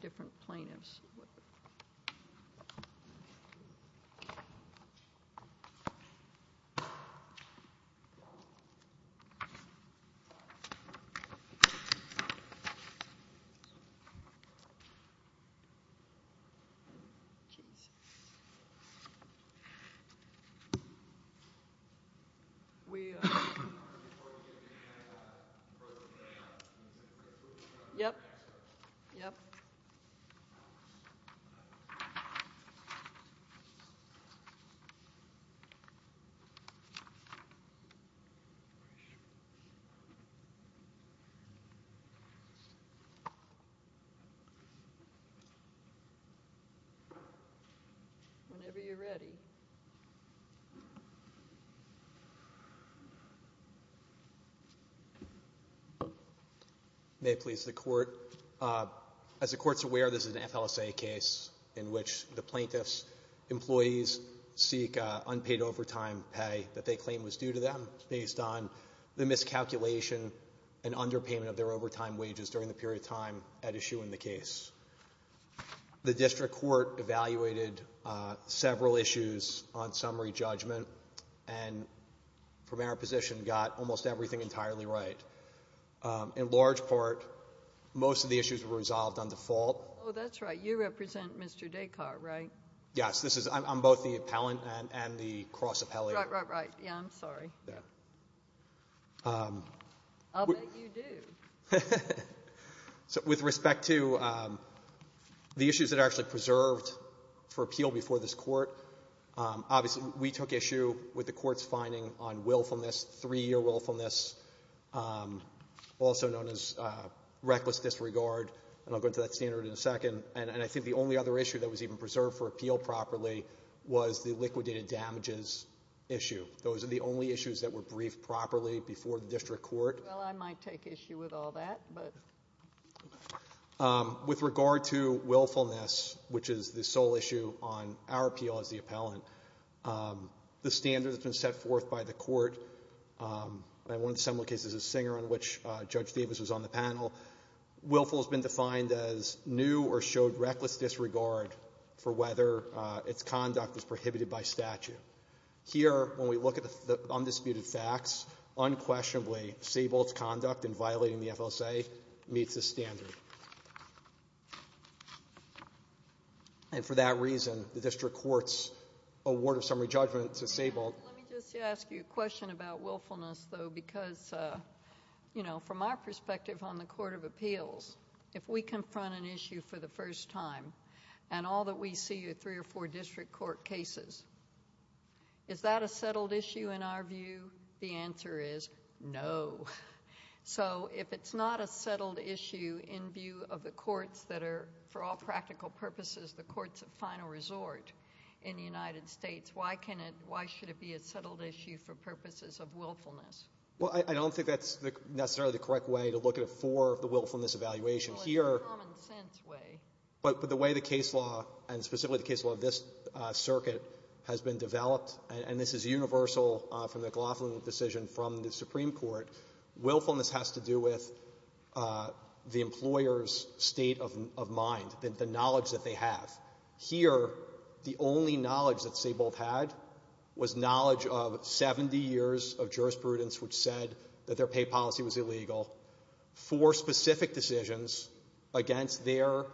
Dacar v. Saybolt L.P. Whenever you're ready. May please the court. As the courts aware, this is an FLSA case in which the plaintiffs employees seek unpaid overtime pay that they claim was due to them based on the miscalculation and underpayment of their overtime wages during the period of time at issue in the case. The district court evaluated several issues on summary judgment and from our position got almost everything entirely right. In large part, most of the issues were resolved on default. Oh, that's right. You represent Mr. Descartes, right? Yes, this is I'm both the appellant and the cross appellate. Right, right, right. Yeah, I'm sorry. Yeah. I'll bet you do. So with respect to the issues that are actually preserved for appeal before this court, obviously we took issue with the court's finding on willfulness, three-year willfulness, also known as reckless disregard. And I'll go into that standard in a second. And I think the only other issue that was even preserved for appeal properly was the liquidated damages issue. Those are the only issues that were briefed properly before the district court. Well, I might take issue with all that, but. With regard to willfulness, which is the sole issue on our appeal as the appellant, the standard that's been set forth by the court, one of the similar cases is Singer on which Judge Davis was on the panel. Willful has been defined as new or showed reckless disregard for whether its conduct was prohibited by statute. Here, when we look at the undisputed facts, unquestionably, Saybolt's conduct in violating the FLSA meets the standard. And for that reason, the district court's award of summary judgment to Saybolt. Let me just ask you a question about willfulness, though, because, you know, from our perspective on the court of appeals, if we confront an issue for the first time and all that we see are three or four district court cases, is that a settled issue in our view? The answer is no. So if it's not a settled issue in view of the courts that are, for all practical purposes, the courts of final resort in the United States, why should it be a settled issue for purposes of willfulness? Well, I don't think that's necessarily the correct way to look at it for the willfulness evaluation here. Well, it's a common-sense way. But the way the case law, and specifically the case law of this circuit, has been developed, and this is universal from the Glauflin decision from the Supreme Court, willfulness has to do with the employer's state of mind, the knowledge that they have. Here, the only knowledge that Saybolt had was knowledge of 70 years of jurisprudence which said that their pay policy was illegal for specific decisions against their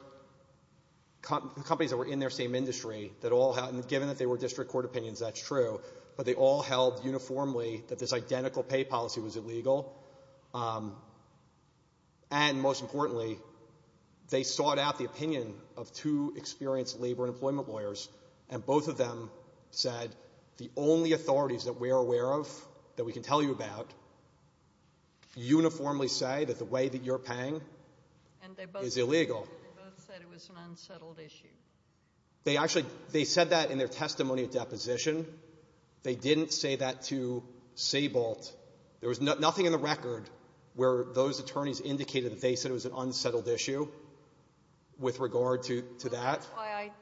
companies that were in their same industry. And given that they were district court opinions, that's true. But they all held uniformly that this identical pay policy was illegal. And most importantly, they sought out the opinion of two experienced labor and employment lawyers, and both of them said the only authorities that we are aware of, that we can tell you about, uniformly say that the way that you're paying is illegal. And they both said it was an unsettled issue. They actually said that in their testimony at deposition. They didn't say that to Saybolt. There was nothing in the record where those attorneys indicated that they said it was an unsettled issue with regard to that.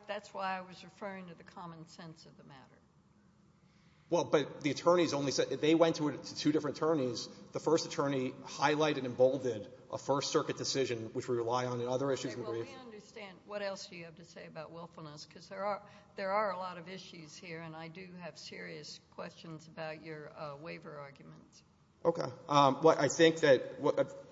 That's why I was referring to the common sense of the matter. Well, but the attorneys only said they went to two different attorneys. The first attorney highlighted and emboldened a First Circuit decision which we rely on in other issues. Okay. Well, we understand. What else do you have to say about willfulness? Because there are a lot of issues here, and I do have serious questions about your waiver arguments. Okay. Well, I think that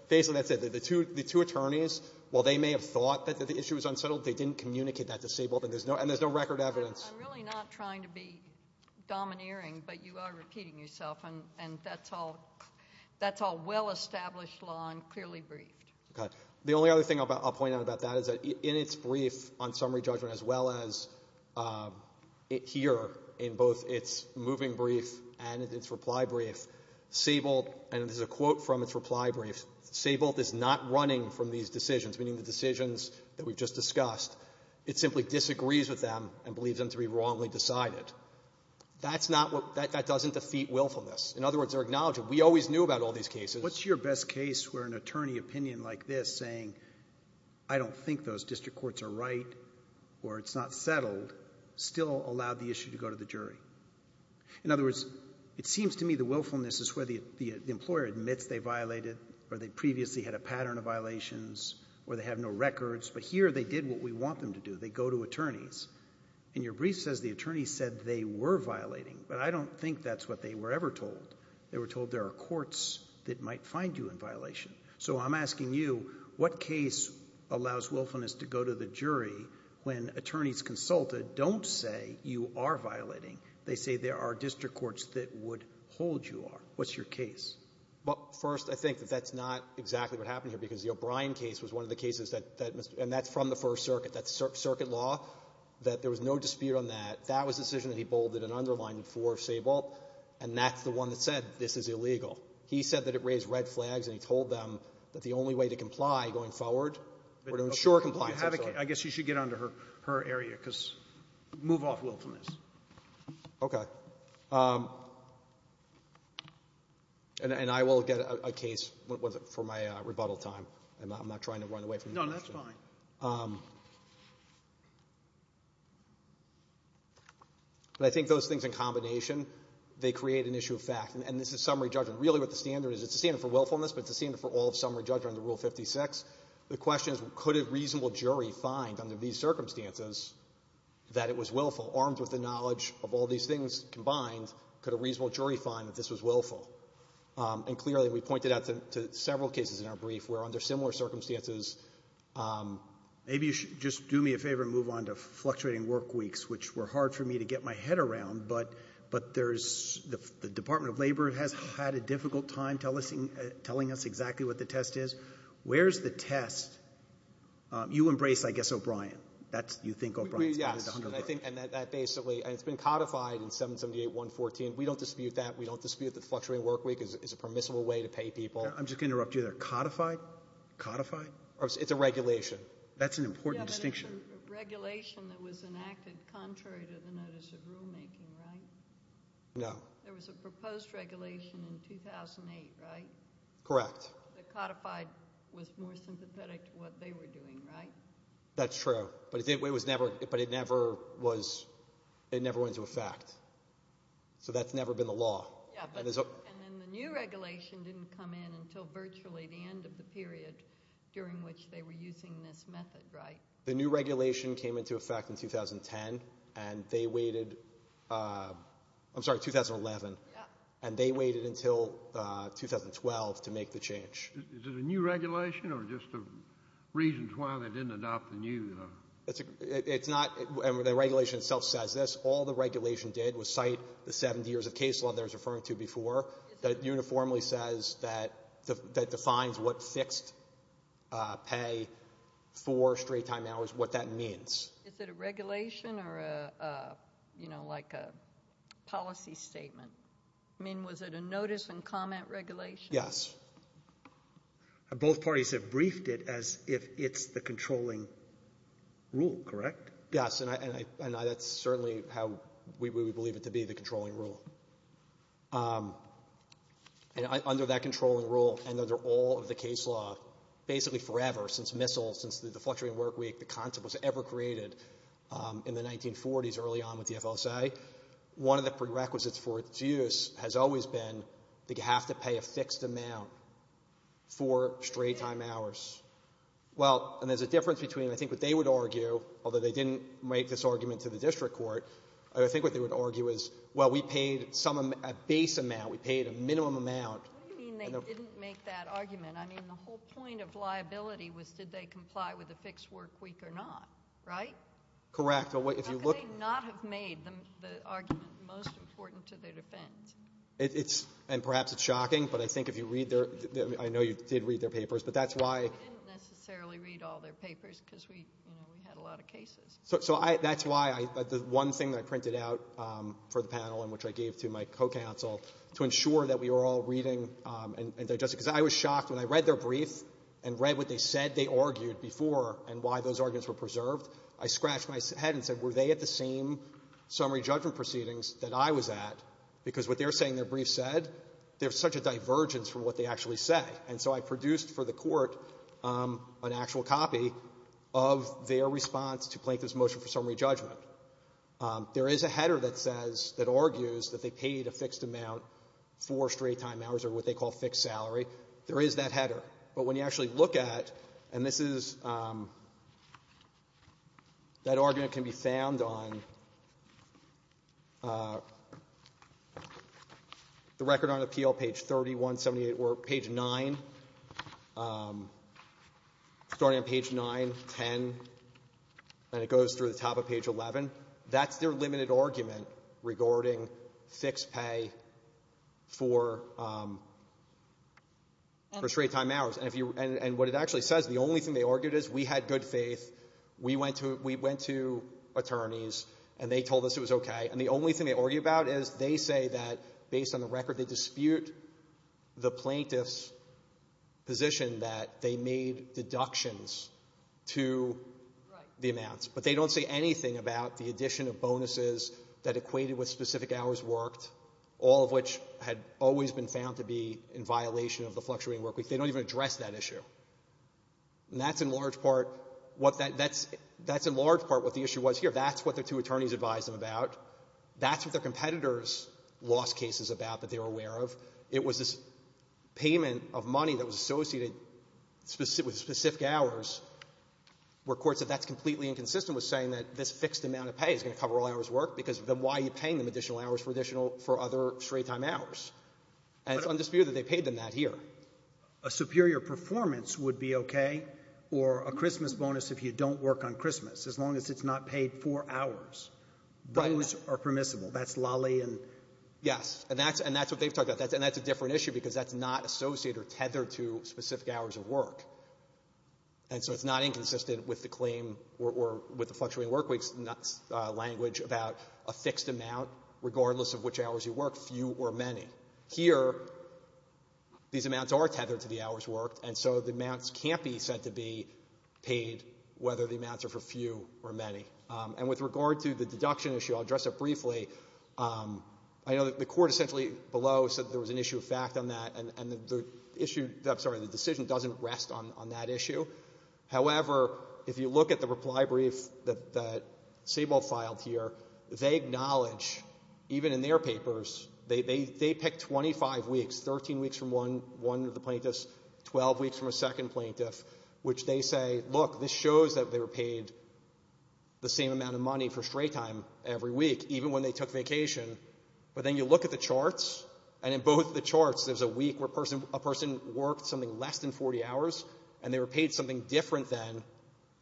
basically that's it. The two attorneys, while they may have thought that the issue was unsettled, they didn't communicate that to Saybolt, and there's no record evidence. I'm really not trying to be domineering, but you are repeating yourself, and that's all well-established law and clearly briefed. Okay. The only other thing I'll point out about that is that in its brief on summary judgment, as well as here in both its moving brief and its reply brief, Saybolt, and this is a quote from its reply brief, Saybolt is not running from these decisions, meaning the decisions that we've just discussed. It simply disagrees with them and believes them to be wrongly decided. That's not what — that doesn't defeat willfulness. In other words, they're acknowledging we always knew about all these cases. What's your best case where an attorney opinion like this saying, I don't think those district courts are right or it's not settled, still allowed the issue to go to the jury? In other words, it seems to me the willfulness is where the employer admits they violated or they previously had a pattern of violations or they have no records, but here they did what we want them to do. They go to attorneys. In your brief, it says the attorney said they were violating, but I don't think that's what they were ever told. They were told there are courts that might find you in violation. So I'm asking you, what case allows willfulness to go to the jury when attorneys consulted don't say you are violating? They say there are district courts that would hold you are. What's your case? First, I think that that's not exactly what happened here, because the O'Brien case was one of the cases that Mr. — and that's from the First Circuit, that's circuit law, that there was no dispute on that. That was a decision that he bolded and underlined for Saybolt, and that's the one that said this is illegal. He said that it raised red flags, and he told them that the only way to comply going forward were to ensure compliance. I guess you should get on to her area, because move off willfulness. Okay. And I will get a case for my rebuttal time. I'm not trying to run away from your question. No, that's fine. But I think those things in combination, they create an issue of fact. And this is summary judgment. Really what the standard is, it's a standard for willfulness, but it's a standard for all summary judgment under Rule 56. The question is, could a reasonable jury find under these circumstances that it was willful? Armed with the knowledge of all these things combined, could a reasonable jury find that this was willful? And clearly, we pointed out to several cases in our brief where under similar circumstances — Maybe you should just do me a favor and move on to fluctuating work weeks, which were hard for me to get my head around, but there's — the Department of Labor has had a difficult time telling us exactly what the test is. Where's the test You embrace, I guess, O'Brien. That's, you think, O'Brien. Yes. And I think that basically — and it's been codified in 778.114. We don't dispute that. We don't dispute that fluctuating work week is a permissible way to pay people. I'm just going to interrupt you there. Codified? Codified? It's a regulation. That's an important distinction. Yeah, but it's a regulation that was enacted contrary to the notice of rulemaking, right? No. There was a proposed regulation in 2008, right? Correct. The codified was more sympathetic to what they were doing, right? That's true, but it never went into effect. So that's never been the law. Yeah, and then the new regulation didn't come in until virtually the end of the period during which they were using this method, right? The new regulation came into effect in 2010, and they waited — I'm sorry, 2011. Yeah. And they waited until 2012 to make the change. Is it a new regulation, or just reasons why they didn't adopt the new — It's not — and the regulation itself says this. All the regulation did was cite the 70 years of case law that I was referring to before that uniformly says that defines what fixed pay for straight-time hours, what that means. Is it a regulation or, you know, like a policy statement? I mean, was it a notice and comment regulation? Yes. Both parties have briefed it as if it's the controlling rule, correct? Yes, and I — that's certainly how we would believe it to be, the controlling rule. And under that controlling rule and under all of the case law, basically forever, since missiles, since the fluctuating work week, the concept was ever created in the 1940s early on with the FSA, one of the prerequisites for its use has always been that you have to pay a fixed amount for straight-time hours. Well, and there's a difference between — I think what they would argue, although they didn't make this argument to the district court, I think what they would argue is, well, we paid some — a base amount. We paid a minimum amount. What do you mean they didn't make that argument? I mean, the whole point of liability was did they comply with a fixed work week or not, right? Correct. How could they not have made the argument most important to their defense? It's — and perhaps it's shocking, but I think if you read their — I know you did read their papers, but that's why — We didn't necessarily read all their papers because we, you know, we had a lot of cases. So I — that's why I — the one thing that I printed out for the panel and which I gave to my co-counsel to ensure that we were all reading and digesting, because I was shocked when I read their brief and read what they said they argued before and why those arguments were preserved, I scratched my head and said, were they at the same summary judgment proceedings that I was at? Because what they're saying their brief said, there's such a divergence from what they actually say. And so I produced for the Court an actual copy of their response to Plankton's motion for summary judgment. There is a header that says — that argues that they paid a fixed amount for straight time hours or what they call fixed salary. There is that header. But when you actually look at — and this is — that argument can be found on the Record on Appeal, page 3178, or page 9, starting on page 9, 10, and it goes through the top of page 11, that's their limited argument regarding fixed pay for straight time hours. And if you — and what it actually says, the only thing they argued is we had good faith, we went to — we went to attorneys, and they told us it was okay. And the only thing they argue about is they say that, based on the record, they dispute the plaintiff's position that they made deductions to the amounts. But they don't say anything about the addition of bonuses that equated with specific hours worked, all of which had always been found to be in violation of the fluctuating workweek. They don't even address that issue. And that's, in large part, what that — that's — that's, in large part, what the issue was here. That's what the two attorneys advised them about. That's what their competitors' lost cases about that they were aware of. It was this payment of money that was associated with specific hours where courts said that's completely inconsistent with saying that this fixed amount of pay is going to cover all hours worked because then why are you paying them additional hours for additional — for other straight-time hours? And it's undisputed that they paid them that here. Roberts. A superior performance would be okay, or a Christmas bonus if you don't work on Christmas, as long as it's not paid for hours. Those are permissible. That's Lally and — Clement. Yes. And that's — and that's what they've talked about. And that's a different issue because that's not associated or tethered to specific hours of work. And so it's not inconsistent with the claim or with the fluctuating workweeks language about a fixed amount, regardless of which hours you work, few or many. Here, these amounts are tethered to the hours worked, and so the amounts can't be said to be paid, whether the amounts are for few or many. And with regard to the deduction issue, I'll address it briefly. I know that the court essentially below said there was an issue of fact on that, and the issue — I'm sorry, the decision doesn't rest on that issue. However, if you look at the reply brief that Sable filed here, they acknowledge, even in their papers, they pick 25 weeks, 13 weeks from one of the plaintiffs, 12 weeks from a second plaintiff, which they say, look, this shows that they were But then you look at the charts, and in both the charts, there's a week where a person worked something less than 40 hours, and they were paid something different than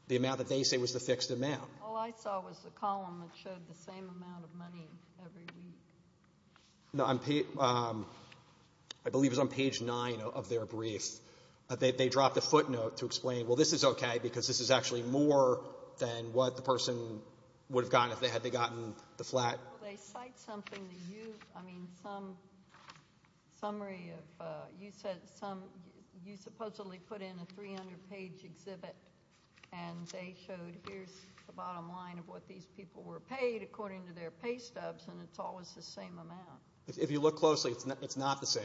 the amount that they say was the fixed amount. All I saw was the column that showed the same amount of money every week. No, I believe it was on page 9 of their brief. They dropped a footnote to explain, well, this is OK because this is actually more than what the person would have gotten if they had gotten the flat. Well, they cite something that you — I mean, some summary of — you said some — you supposedly put in a 300-page exhibit, and they showed here's the bottom line of what these people were paid according to their pay stubs, and it's always the same amount. If you look closely, it's not the same.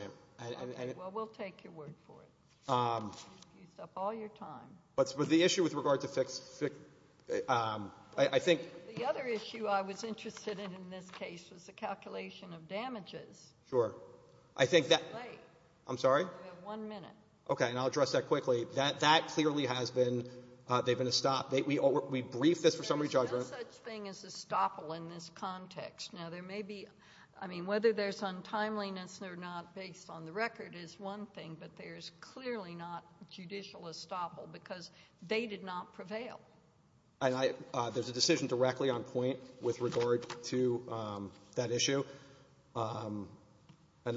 Well, we'll take your word for it. You've used up all your time. But the issue with regard to fixed — I think — The other issue I was interested in in this case was the calculation of damages. Sure. I think that — It's late. I'm sorry? You have one minute. OK, and I'll address that quickly. That clearly has been — they've been estopped. We briefed this for summary judgment. There's no such thing as estoppel in this context. Now, there may be — I mean, whether there's untimeliness or not based on the record is one thing, but there's clearly not judicial estoppel because they did not prevail. And I — there's a decision directly on point with regard to that issue, and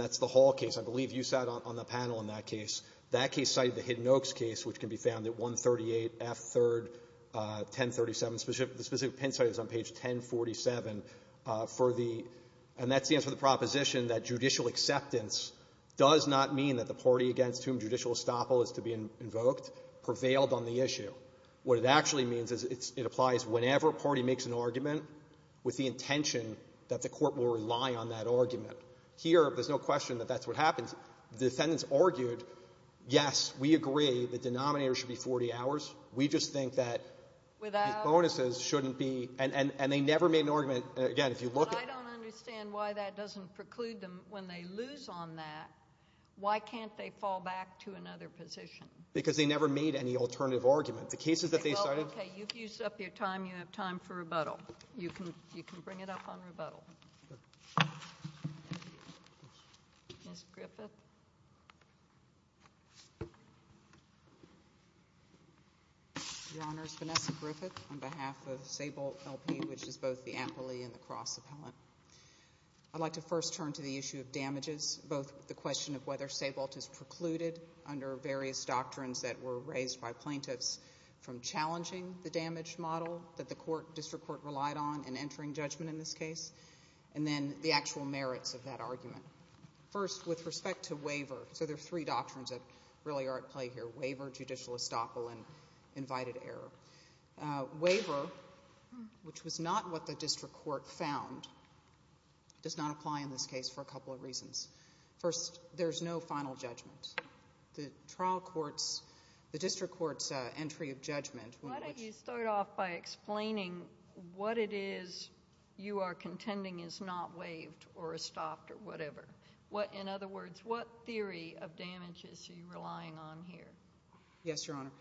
that's the Hall case. I believe you sat on the panel on that case. That case cited the Hidden Oaks case, which can be found at 138 F. 3rd, 1037. The specific pencil is on page 1047 for the — and that's the answer to the proposition that judicial acceptance does not mean that the party against whom judicial estoppel is to be invoked prevailed on the issue. What it actually means is it's — it applies whenever a party makes an argument with the intention that the court will rely on that argument. Here, there's no question that that's what happens. The defendants argued, yes, we agree the denominator should be 40 hours. We just think that these bonuses shouldn't be — and they never made an argument But I don't understand why that doesn't preclude them. When they lose on that, why can't they fall back to another position? Because they never made any alternative argument. The cases that they cited — Well, okay. You've used up your time. You have time for rebuttal. You can bring it up on rebuttal. Ms. Griffith. Your Honor, it's Vanessa Griffith on behalf of Sabolt L.P., which is both the Ampli and the Cross appellant. I'd like to first turn to the issue of damages, both the question of whether Sabolt is precluded under various doctrines that were raised by plaintiffs from challenging the damage model that the court, district court, relied on in entering judgment in this case, and then the actual merits of that argument. First, with respect to waiver, so there are three doctrines that really are at play here, waiver, judicial estoppel, and invited error. Waiver, which was not what the district court found, does not apply in this case for a couple of reasons. First, there's no final judgment. The district court's entry of judgment — Why don't you start off by explaining what it is you are contending is not waived or estopped or whatever. In other words, what theory of damages are you relying on here? Yes, Your Honor.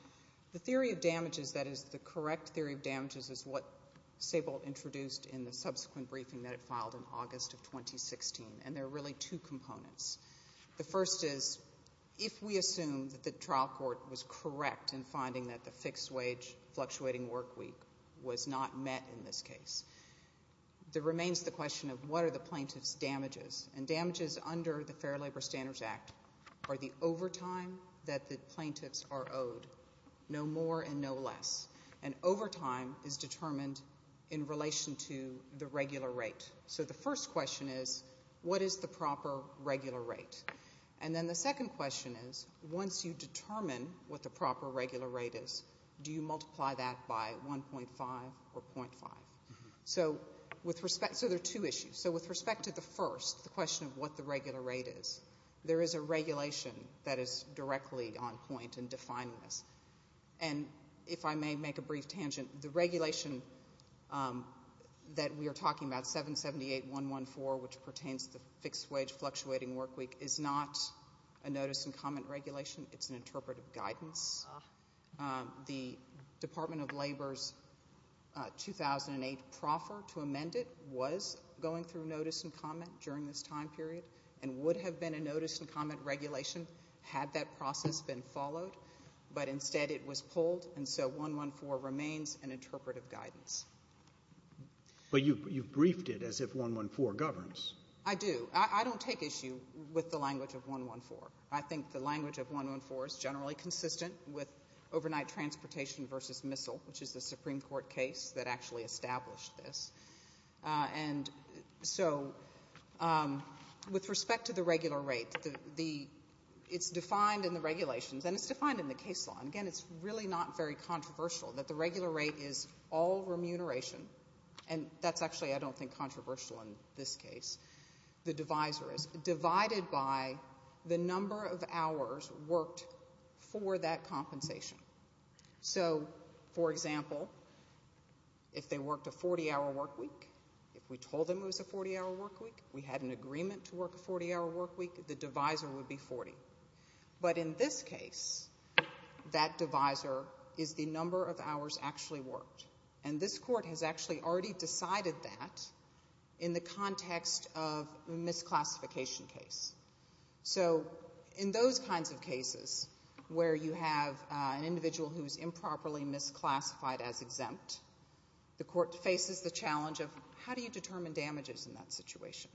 The theory of damages, that is, the correct theory of damages, is what Sabolt introduced in the subsequent briefing that it filed in August of 2016, and there are really two components. The first is, if we assume that the trial court was correct in finding that the fixed-wage fluctuating work week was not met in this case, there remains the question of what are the plaintiff's damages. And damages under the Fair Labor Standards Act are the overtime that the plaintiffs are owed, no more and no less. And overtime is determined in relation to the regular rate. So the first question is, what is the proper regular rate? And then the second question is, once you determine what the proper regular rate is, do you multiply that by 1.5 or .5? So there are two issues. So with respect to the first, the question of what the regular rate is, there is a regulation that is directly on point in defining this. And if I may make a brief tangent, the regulation that we are talking about, 778.114, which pertains to the fixed-wage fluctuating work week, is not a notice and comment regulation. It's an interpretive guidance. The Department of Labor's 2008 proffer to amend it was going through notice and comment during this time period and would have been a notice and comment regulation had that process been followed, but instead it was pulled, and so 114 remains an interpretive guidance. But you've briefed it as if 114 governs. I do. I don't take issue with the language of 114. I think the language of 114 is generally consistent with overnight transportation versus missile, which is the Supreme Court case that actually established this. And so with respect to the regular rate, it's defined in the regulations and it's defined in the case law. And, again, it's really not very controversial that the regular rate is all remuneration. And that's actually, I don't think, controversial in this case. The divisor is divided by the number of hours worked for that compensation. So, for example, if they worked a 40-hour work week, if we told them it was a 40-hour work week, we had an agreement to work a 40-hour work week, the divisor would be 40. But in this case, that divisor is the number of hours actually worked. And this court has actually already decided that in the context of a misclassification case. So in those kinds of cases where you have an individual who is improperly misclassified as exempt, the court faces the challenge of, how do you determine damages in that situation?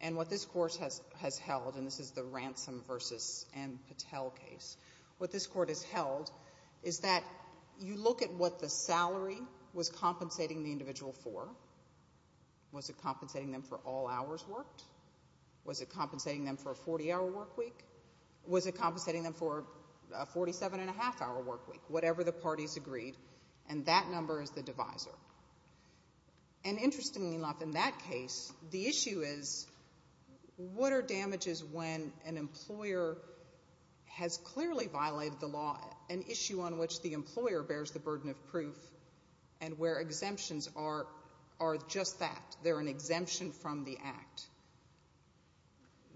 And what this court has held, and this is the Ransom v. Patel case, what this court has held is that you look at what the salary was compensating the individual for. Was it compensating them for all hours worked? Was it compensating them for a 40-hour work week? Was it compensating them for a 47-and-a-half-hour work week? Whatever the parties agreed. And that number is the divisor. And interestingly enough, in that case, the issue is, what are damages when an employer has clearly violated the law, an issue on which the employer bears the burden of proof, and where exemptions are just that, they're an exemption from the Act.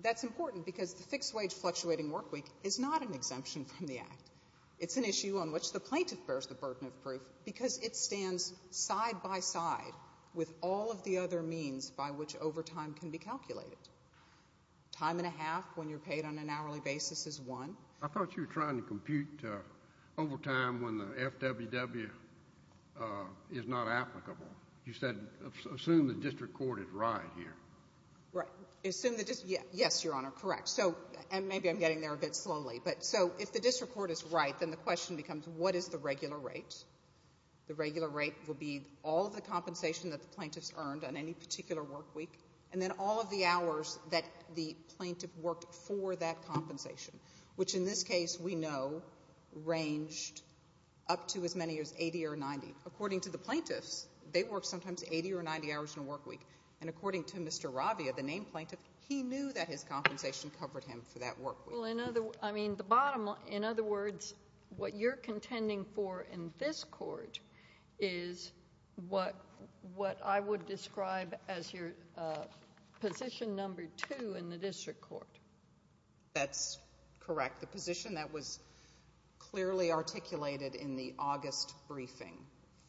That's important because the fixed-wage fluctuating work week is not an exemption from the Act. It's an issue on which the plaintiff bears the burden of proof because it stands side by side with all of the other means by which overtime can be calculated. Time and a half when you're paid on an hourly basis is one. I thought you were trying to compute overtime when the FWW is not applicable. You said assume the district court is right here. Right. Yes, Your Honor, correct. And maybe I'm getting there a bit slowly. So if the district court is right, then the question becomes, what is the regular rate? The regular rate would be all of the compensation that the plaintiff's earned on any particular work week, and then all of the hours that the plaintiff worked for that compensation, which in this case we know ranged up to as many as 80 or 90. According to the plaintiffs, they worked sometimes 80 or 90 hours in a work week, and according to Mr. Ravia, the named plaintiff, he knew that his compensation covered him for that work week. Well, I mean, the bottom line, in other words, what you're contending for in this court is what I would describe as your position number 2 in the district court. That's correct. The position that was clearly articulated in the August briefing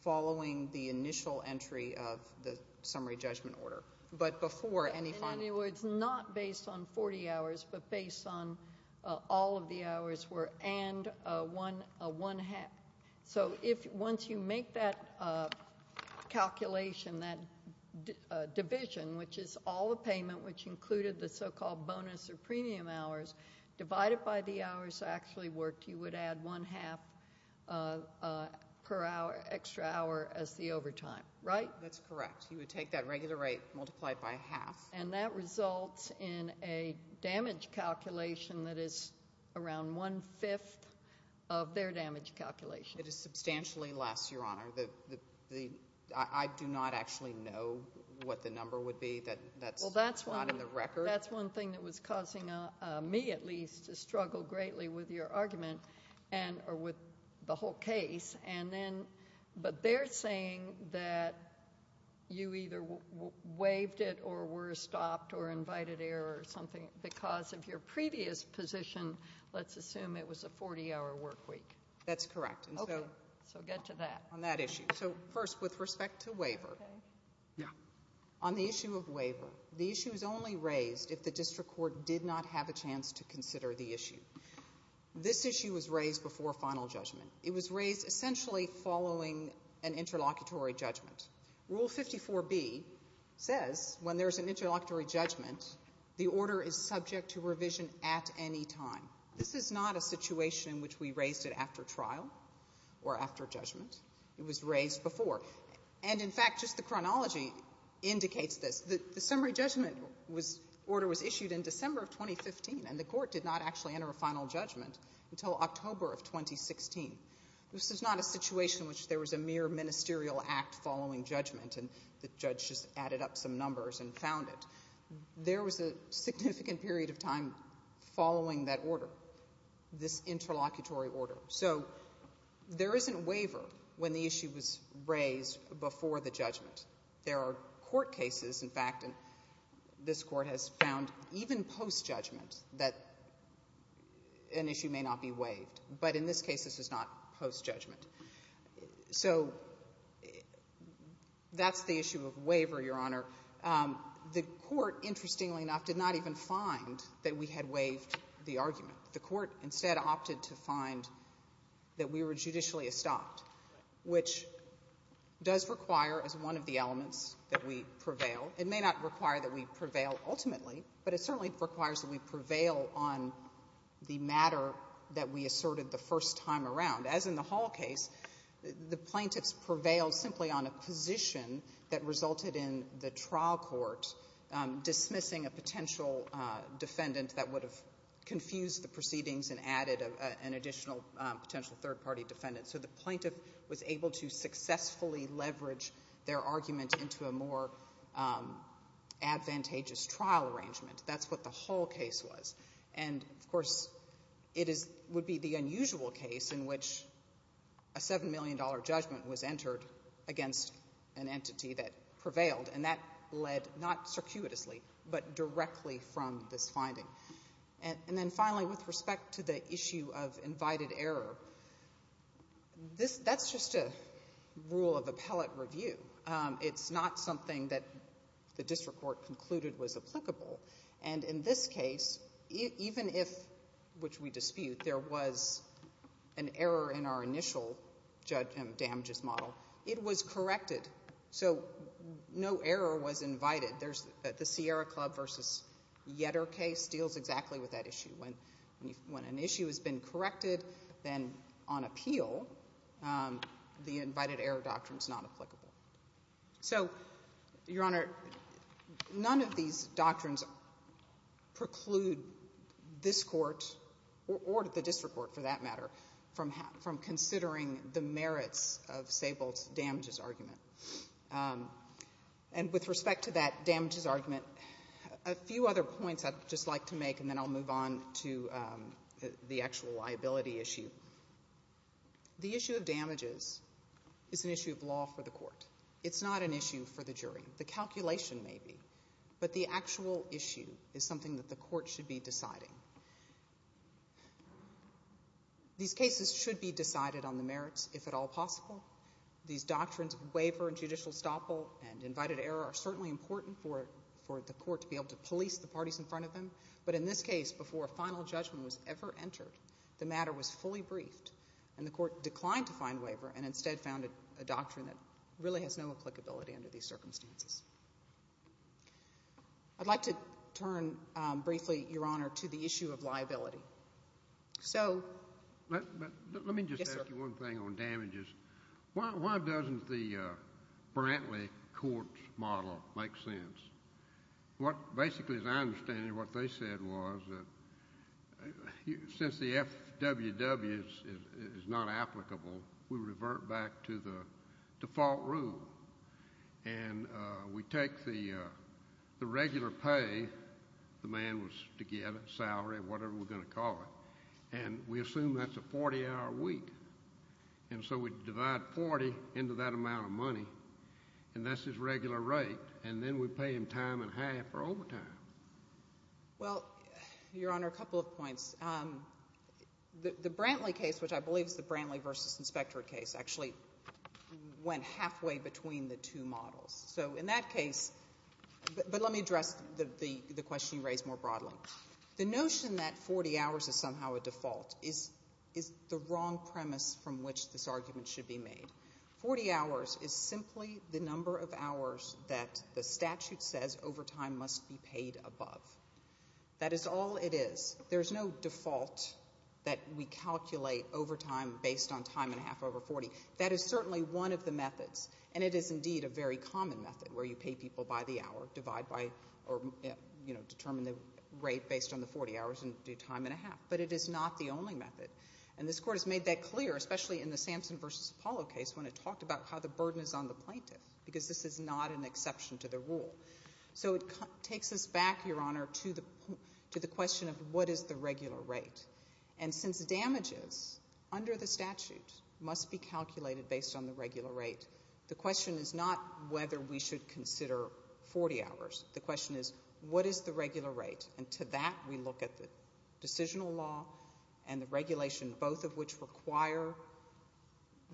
following the initial entry of the summary judgment order, but before any final... In other words, not based on 40 hours, but based on all of the hours were and one half. So once you make that calculation, that division, which is all the payment, which included the so-called bonus or premium hours, divided by the hours actually worked, you would add one half per extra hour as the overtime, right? That's correct. You would take that regular rate, multiply it by half. And that results in a damage calculation that is around one-fifth of their damage calculation. It is substantially less, Your Honor. I do not actually know what the number would be. That's not in the record. That's one thing that was causing me, at least, to struggle greatly with your argument, or with the whole case. But they're saying that you either waived it or were stopped or invited error or something because of your previous position. Let's assume it was a 40-hour work week. That's correct. So get to that. On that issue. So first, with respect to waiver. On the issue of waiver, the issue is only raised if the district court did not have a chance to consider the issue. This issue was raised before final judgment. It was raised essentially following an interlocutory judgment. Rule 54B says when there's an interlocutory judgment, the order is subject to revision at any time. This is not a situation in which we raised it after trial or after judgment. It was raised before. And in fact, just the chronology indicates this. The summary judgment order was issued in December of 2015, and the court did not actually enter a final judgment until October of 2016. This is not a situation in which there was a mere ministerial act following judgment and the judge just added up some numbers and found it. There was a significant period of time following that order, this interlocutory order. So there isn't waiver when the issue was raised before the judgment. There are court cases, in fact, and this Court has found even post-judgment that an issue may not be waived. But in this case, this is not post-judgment. So that's the issue of waiver, Your Honor. The Court, interestingly enough, did not even find that we had waived the argument. The Court instead opted to find that we were judicially estopped, which does require as one of the elements that we prevail. It may not require that we prevail ultimately, but it certainly requires that we prevail on the matter that we asserted the first time around. As in the Hall case, the plaintiffs prevailed simply on a position that resulted in the trial court dismissing a potential defendant that would have confused the proceedings and added an additional potential third-party defendant. So the plaintiff was able to successfully leverage their argument into a more advantageous trial arrangement. That's what the Hall case was. And, of course, it would be the unusual case in which a $7 million judgment was entered against an entity that prevailed, and that led not circuitously but directly from this finding. And then finally, with respect to the issue of invited error, that's just a rule of appellate review. It's not something that the district court concluded was applicable. And in this case, even if, which we dispute, there was an error in our initial damages model, it was corrected. So no error was invited. The Sierra Club v. Yetter case deals exactly with that issue. When an issue has been corrected, then on appeal, the invited error doctrine is not applicable. So, Your Honor, none of these doctrines preclude this court, or the district court, for that matter, from considering the merits of Sable's damages argument. And with respect to that damages argument, a few other points I'd just like to make, and then I'll move on to the actual liability issue. The issue of damages is an issue of law for the court. It's not an issue for the jury. The calculation may be, but the actual issue is something that the court should be deciding. These cases should be decided on the merits, if at all possible. These doctrines of waiver and judicial stoppable and invited error are certainly important for the court to be able to police the parties in front of them. But in this case, before a final judgment was ever entered, the matter was fully briefed, and the court declined to find waiver and instead found a doctrine that really has no applicability under these circumstances. I'd like to turn briefly, Your Honor, to the issue of liability. So... Let me just ask you one thing on damages. Why doesn't the Brantley court's model make sense? Basically, as I understand it, what they said was that since the FWW is not applicable, we revert back to the default rule. And we take the regular pay the man was to get, salary, whatever we're going to call it, and we assume that's a 40-hour week. And so we divide 40 into that amount of money, and that's his regular rate, and then we pay him time and half for overtime. Well, Your Honor, a couple of points. The Brantley case, which I believe is the Brantley v. Inspectorate case, actually went halfway between the two models. So in that case... But let me address the question you raised more broadly. The notion that 40 hours is somehow a default is the wrong premise from which this argument should be made. 40 hours is simply the number of hours that the statute says overtime must be paid above. That is all it is. There's no default that we calculate overtime based on time and a half over 40. That is certainly one of the methods, and it is indeed a very common method where you pay people by the hour, divide by, or, you know, determine the rate based on the 40 hours and do time and a half. But it is not the only method. And this Court has made that clear, especially in the Sampson v. Apollo case when it talked about how the burden is on the plaintiff, because this is not an exception to the rule. So it takes us back, Your Honor, to the question of what is the regular rate. And since damages under the statute must be calculated based on the regular rate, the question is not whether we should consider 40 hours. The question is, what is the regular rate? And to that we look at the decisional law and the regulation, both of which require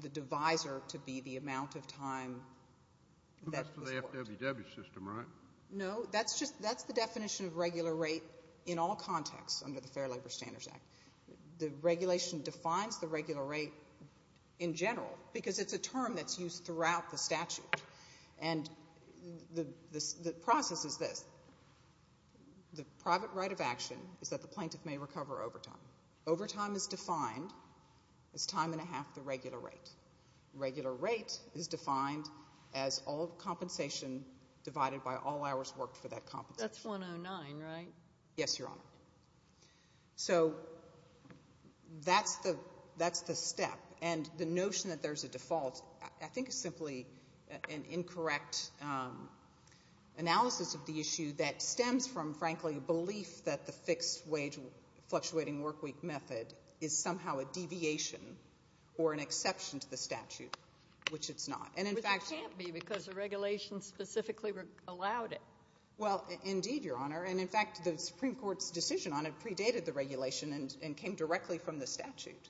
the divisor to be the amount of time... That's for the FWW system, right? No, that's the definition of regular rate in all contexts under the Fair Labor Standards Act. The regulation defines the regular rate in general because it's a term that's used throughout the statute. And the process is this. The private right of action is that the plaintiff may recover overtime. Overtime is defined as time and a half the regular rate. Regular rate is defined as all compensation divided by all hours worked for that compensation. That's 109, right? Yes, Your Honor. So that's the step. And the notion that there's a default I think is simply an incorrect analysis of the issue that stems from, frankly, a belief that the fixed-wage fluctuating workweek method is somehow a deviation or an exception to the statute, which it's not. Which it can't be because the regulation specifically allowed it. Well, indeed, Your Honor. And, in fact, the Supreme Court's decision on it predated the regulation and came directly from the statute.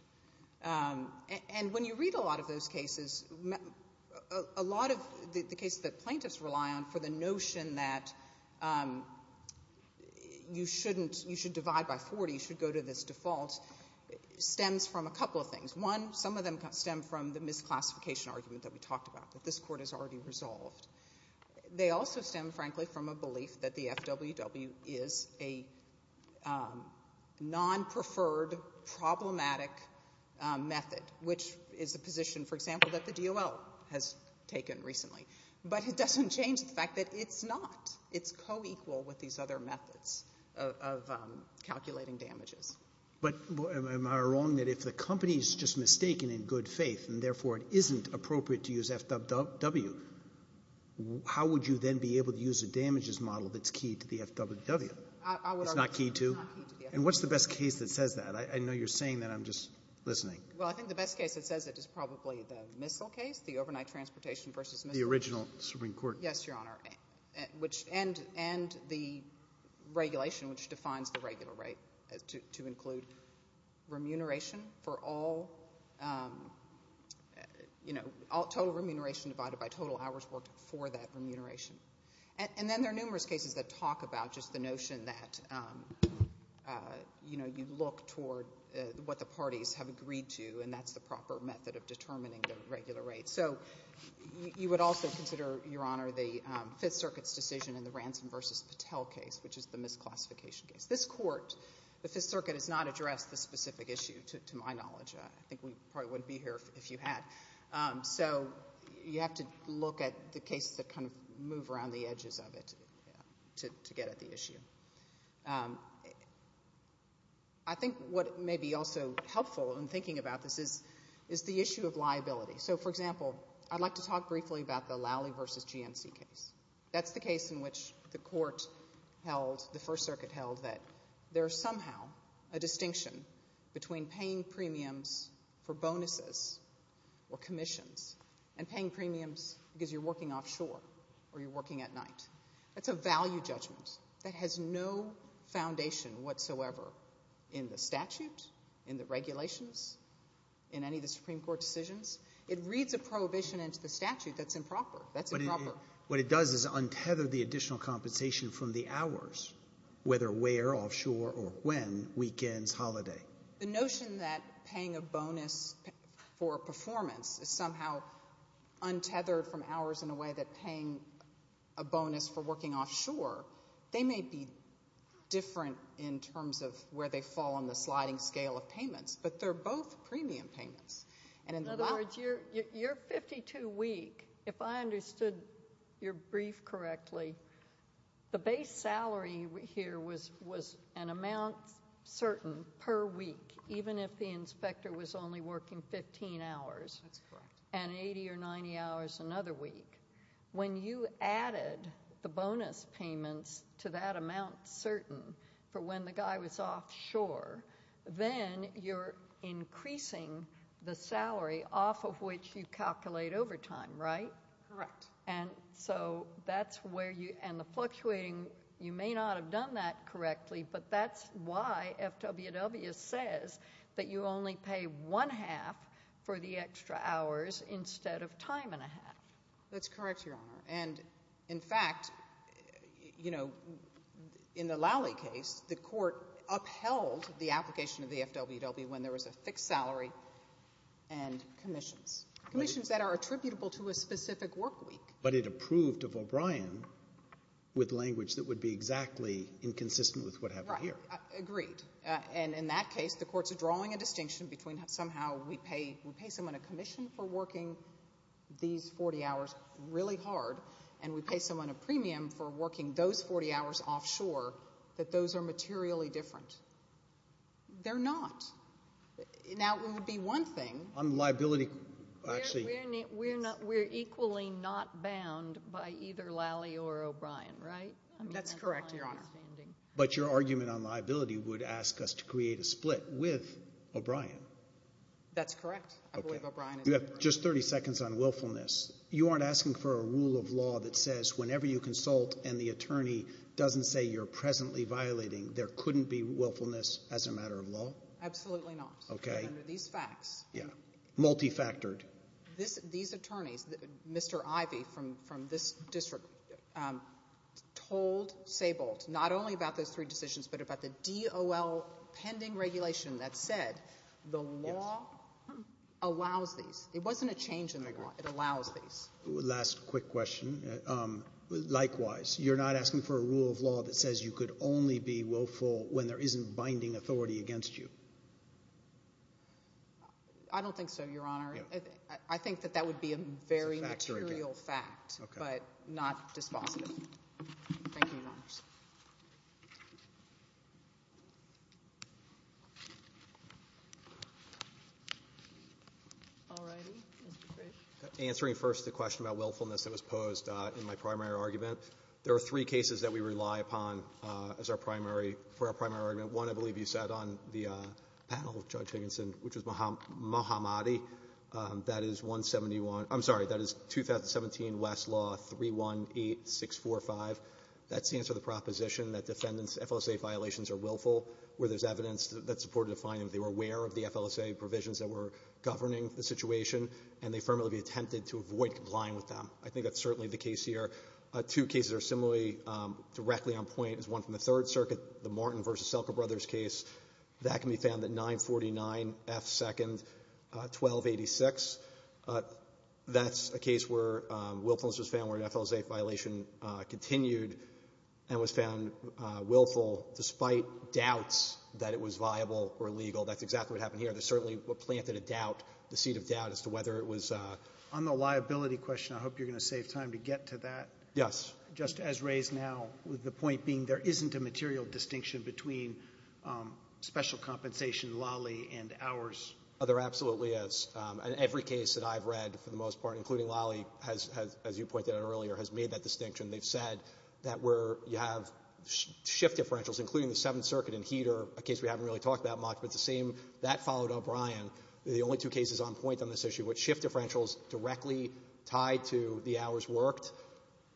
And when you read a lot of those cases, a lot of the cases that plaintiffs rely on for the notion that you should divide by 40, you should go to this default, stems from a couple of things. One, some of them stem from the misclassification argument that we talked about, that this Court has already resolved. They also stem, frankly, from a belief that the FWW is a non-preferred, problematic method, which is a position, for example, that the DOL has taken recently. But it doesn't change the fact that it's not. It's co-equal with these other methods of calculating damages. But am I wrong that if the company's just mistaken in good faith and, therefore, it isn't appropriate to use FWW, how would you then be able to use a damages model that's key to the FWW? It's not key to? It's not key to the FWW. And what's the best case that says that? I know you're saying that. I'm just listening. Well, I think the best case that says it is probably the missile case, the overnight transportation versus missile case. The original Supreme Court. Yes, Your Honor. And the regulation, which defines the regular rate, to include remuneration for all, total remuneration divided by total hours worked for that remuneration. And then there are numerous cases that talk about just the notion that you look toward what the parties have agreed to, and that's the proper method of determining the regular rate. So you would also consider, Your Honor, the Fifth Circuit's decision in the Ransom versus Patel case, which is the misclassification case. This Court, the Fifth Circuit, has not addressed this specific issue, to my knowledge. I think we probably wouldn't be here if you had. So you have to look at the cases that kind of move around the edges of it to get at the issue. I think what may be also helpful in thinking about this is the issue of liability. So, for example, I'd like to talk briefly about the Lally versus GNC case. That's the case in which the Court held, the First Circuit held, that there is somehow a distinction between paying premiums for bonuses or commissions and paying premiums because you're working offshore or you're working at night. That's a value judgment that has no foundation whatsoever in the statute, in the regulations, in any of the Supreme Court decisions. It reads a prohibition into the statute that's improper. That's improper. What it does is untether the additional compensation from the hours, whether we're offshore or when, weekends, holiday. The notion that paying a bonus for performance is somehow untethered from hours in a way that paying a bonus for working offshore, they may be different in terms of where they fall on the sliding scale of payments, but they're both premium payments. In other words, you're 52-week. If I understood your brief correctly, the base salary here was an amount certain per week, even if the inspector was only working 15 hours. That's correct. And 80 or 90 hours another week. When you added the bonus payments to that amount certain then you're increasing the salary off of which you calculate overtime, right? Correct. And so that's where you... And the fluctuating, you may not have done that correctly, but that's why FWW says that you only pay one half for the extra hours instead of time and a half. That's correct, Your Honor. And, in fact, you know, in the Lowley case, the court upheld the application of the FWW when there was a fixed salary and commissions, commissions that are attributable to a specific work week. But it approved of O'Brien with language that would be exactly inconsistent with what happened here. Right. Agreed. And, in that case, the court's drawing a distinction between somehow we pay someone a commission for working these 40 hours really hard and we pay someone a premium for working those 40 hours offshore, that those are materially different. They're not. Now, it would be one thing... On liability, actually... We're equally not bound by either Lowley or O'Brien, right? That's correct, Your Honor. But your argument on liability would ask us to create a split with O'Brien. That's correct. I believe O'Brien is... You have just 30 seconds on willfulness. You aren't asking for a rule of law that says whenever you consult and the attorney doesn't say you're presently violating, there couldn't be willfulness as a matter of law? Absolutely not. Okay. Under these facts. Yeah. Multifactored. These attorneys, Mr. Ivey from this district, told Sabolt not only about those three decisions but about the DOL pending regulation that said the law allows these. It wasn't a change in the law. I agree. It allows these. Last quick question. Likewise, you're not asking for a rule of law that says you could only be willful when there isn't binding authority against you? I don't think so, Your Honor. I think that that would be a very material fact but not dispositive. Thank you, Your Honors. All righty. Answering first the question about willfulness that was posed in my primary argument, there are three cases that we rely upon as our primary for our primary argument. One, I believe you said on the panel, Judge Higginson, which was Mohammadi. That is 171 — I'm sorry. That is 2017 West Law 318645. That stands for the proposition that defendants' FLSA violations are willful where there's evidence that supported a finding that they were aware of the FLSA provisions that were governing the situation, and they firmly attempted to avoid complying with them. I think that's certainly the case here. Two cases are similarly directly on point. There's one from the Third Circuit, the Martin v. Selka brothers case. That can be found at 949 F. 2nd 1286. That's a case where willfulness was found where an FLSA violation continued and was found willful despite doubts that it was viable or legal. That's exactly what happened here. There certainly were planted a doubt, the seed of doubt, as to whether it was a — On the liability question, I hope you're going to save time to get to that. Yes. Just as raised now, with the point being there isn't a material distinction between special compensation, LALI, and ours. Oh, there absolutely is. And every case that I've read, for the most part, including LALI, as you pointed out earlier, has made that distinction. They've said that where you have shift differentials, including the Seventh Circuit and HEDR, a case we haven't really talked about much, but the same — that followed O'Brien. The only two cases on point on this issue were shift differentials directly tied to the hours worked.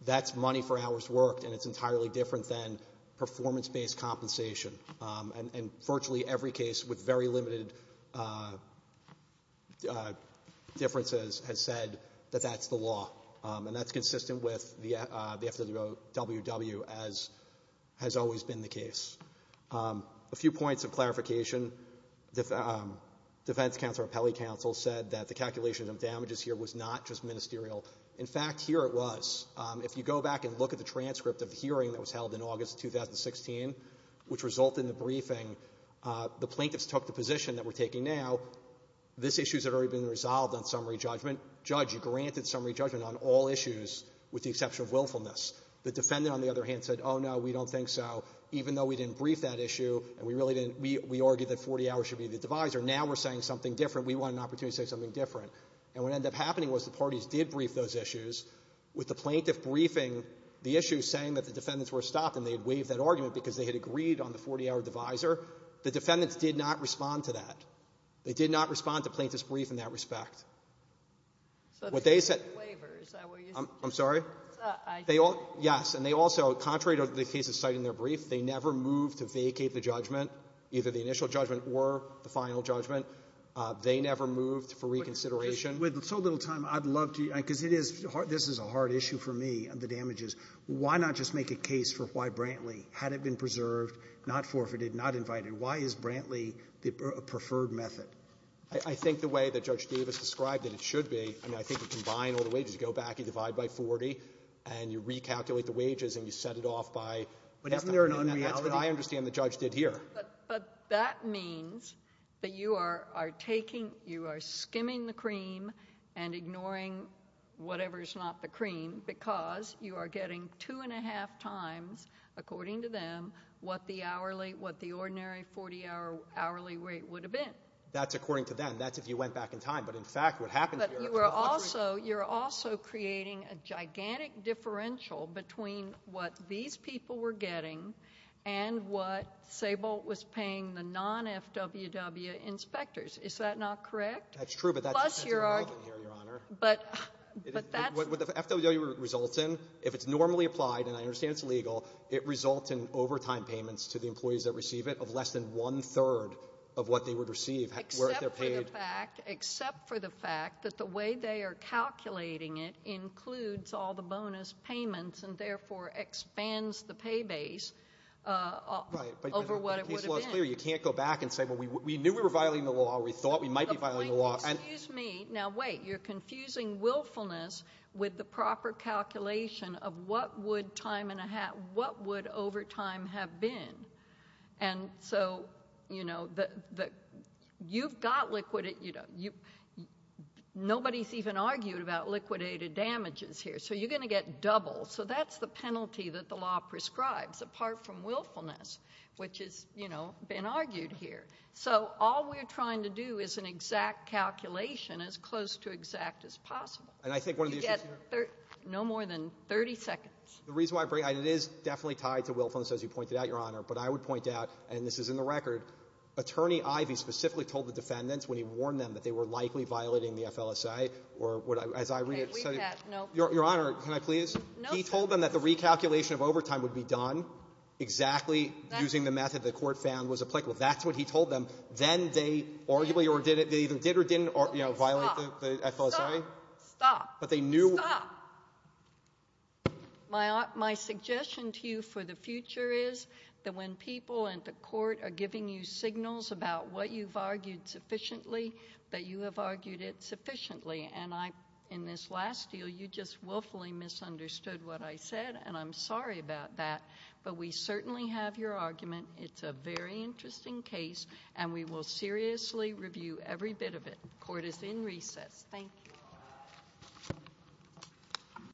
That's money for hours worked, and it's entirely different than performance-based compensation. And virtually every case with very limited differences has said that that's the law. And that's consistent with the FWW, as has always been the case. A few points of clarification. The defense counsel or appellee counsel said that the calculation of damages here was not just ministerial. In fact, here it was. If you go back and look at the transcript of the hearing that was held in August 2016, which resulted in the briefing, the plaintiffs took the position that we're taking now, this issue has already been resolved on summary judgment. Judge, you granted summary judgment on all issues with the exception of willfulness. The defendant, on the other hand, said, oh, no, we don't think so. Even though we didn't brief that issue and we really didn't, we argued that 40 hours should be the divisor, now we're saying something different. We want an opportunity to say something different. And what ended up happening was the parties did brief those issues. With the plaintiff briefing the issue, saying that the defendants were stopped and they had waived that argument because they had agreed on the 40-hour divisor, the defendants did not respond to that. They did not respond to plaintiff's brief in that respect. What they said — I'm sorry? Yes. And they also, contrary to the cases cited in their brief, they never moved to vacate the judgment, either the initial judgment or the final judgment. They never moved for reconsideration. With so little time, I'd love to — because it is hard. This is a hard issue for me, the damages. Why not just make a case for why Brantley, had it been preserved, not forfeited, not invited? Why is Brantley the preferred method? I think the way that Judge Davis described it, it should be. I mean, I think you combine all the wages. You go back, you divide by 40, and you recalculate the wages and you set it off by — But isn't there an un-reality? That's what I understand the judge did here. But that means that you are taking — you are skimming the cream and ignoring whatever is not the cream because you are getting two-and-a-half times, according to them, what the ordinary 40-hour hourly rate would have been. That's according to them. That's if you went back in time. But in fact, what happened here — But you're also creating a gigantic differential between what these people were getting and what Sable was paying the non-FWW inspectors. Is that not correct? That's true, but that depends on the argument here, Your Honor. But that's — What the FWW results in, if it's normally applied, and I understand it's legal, it results in overtime payments to the employees that receive it of less than one-third of what they would receive. Except for the fact — Except for the fact that the way they are calculating it includes all the bonus payments and therefore expands the pay base over what it would have been. Right, but the case law is clear. You can't go back and say, Well, we knew we were violating the law. We thought we might be violating the law. The point — excuse me. Now, wait. You're confusing willfulness with the proper calculation of what would time-and-a-half — what would overtime have been. And so, you know, you've got liquidated — nobody's even argued about liquidated damages here. So you're going to get double. So that's the penalty that the law prescribes, apart from willfulness, which has, you know, been argued here. So all we're trying to do is an exact calculation, as close to exact as possible. And I think one of the issues here — You get no more than 30 seconds. The reason why — and it is definitely tied to willfulness, as you pointed out, Your Honor. But I would point out, and this is in the record, Attorney Ivey specifically told the defendants when he warned them that they were likely violating the FLSA, or as I read it — Okay. We've had — no. Your Honor, can I please? No. He told them that the recalculation of overtime would be done exactly using the method the Court found was applicable. That's what he told them. Then they arguably — or they either did or didn't, you know, violate the FLSA. Stop. Stop. Stop. But they knew — Stop. My suggestion to you for the future is that when people in the Court are giving you signals about what you've argued sufficiently, that you have argued it sufficiently. And I — in this last deal, you just willfully misunderstood what I said, and I'm sorry about that. But we certainly have your argument. It's a very interesting case, and we will seriously review every bit of it. Court is in recess. Thank you.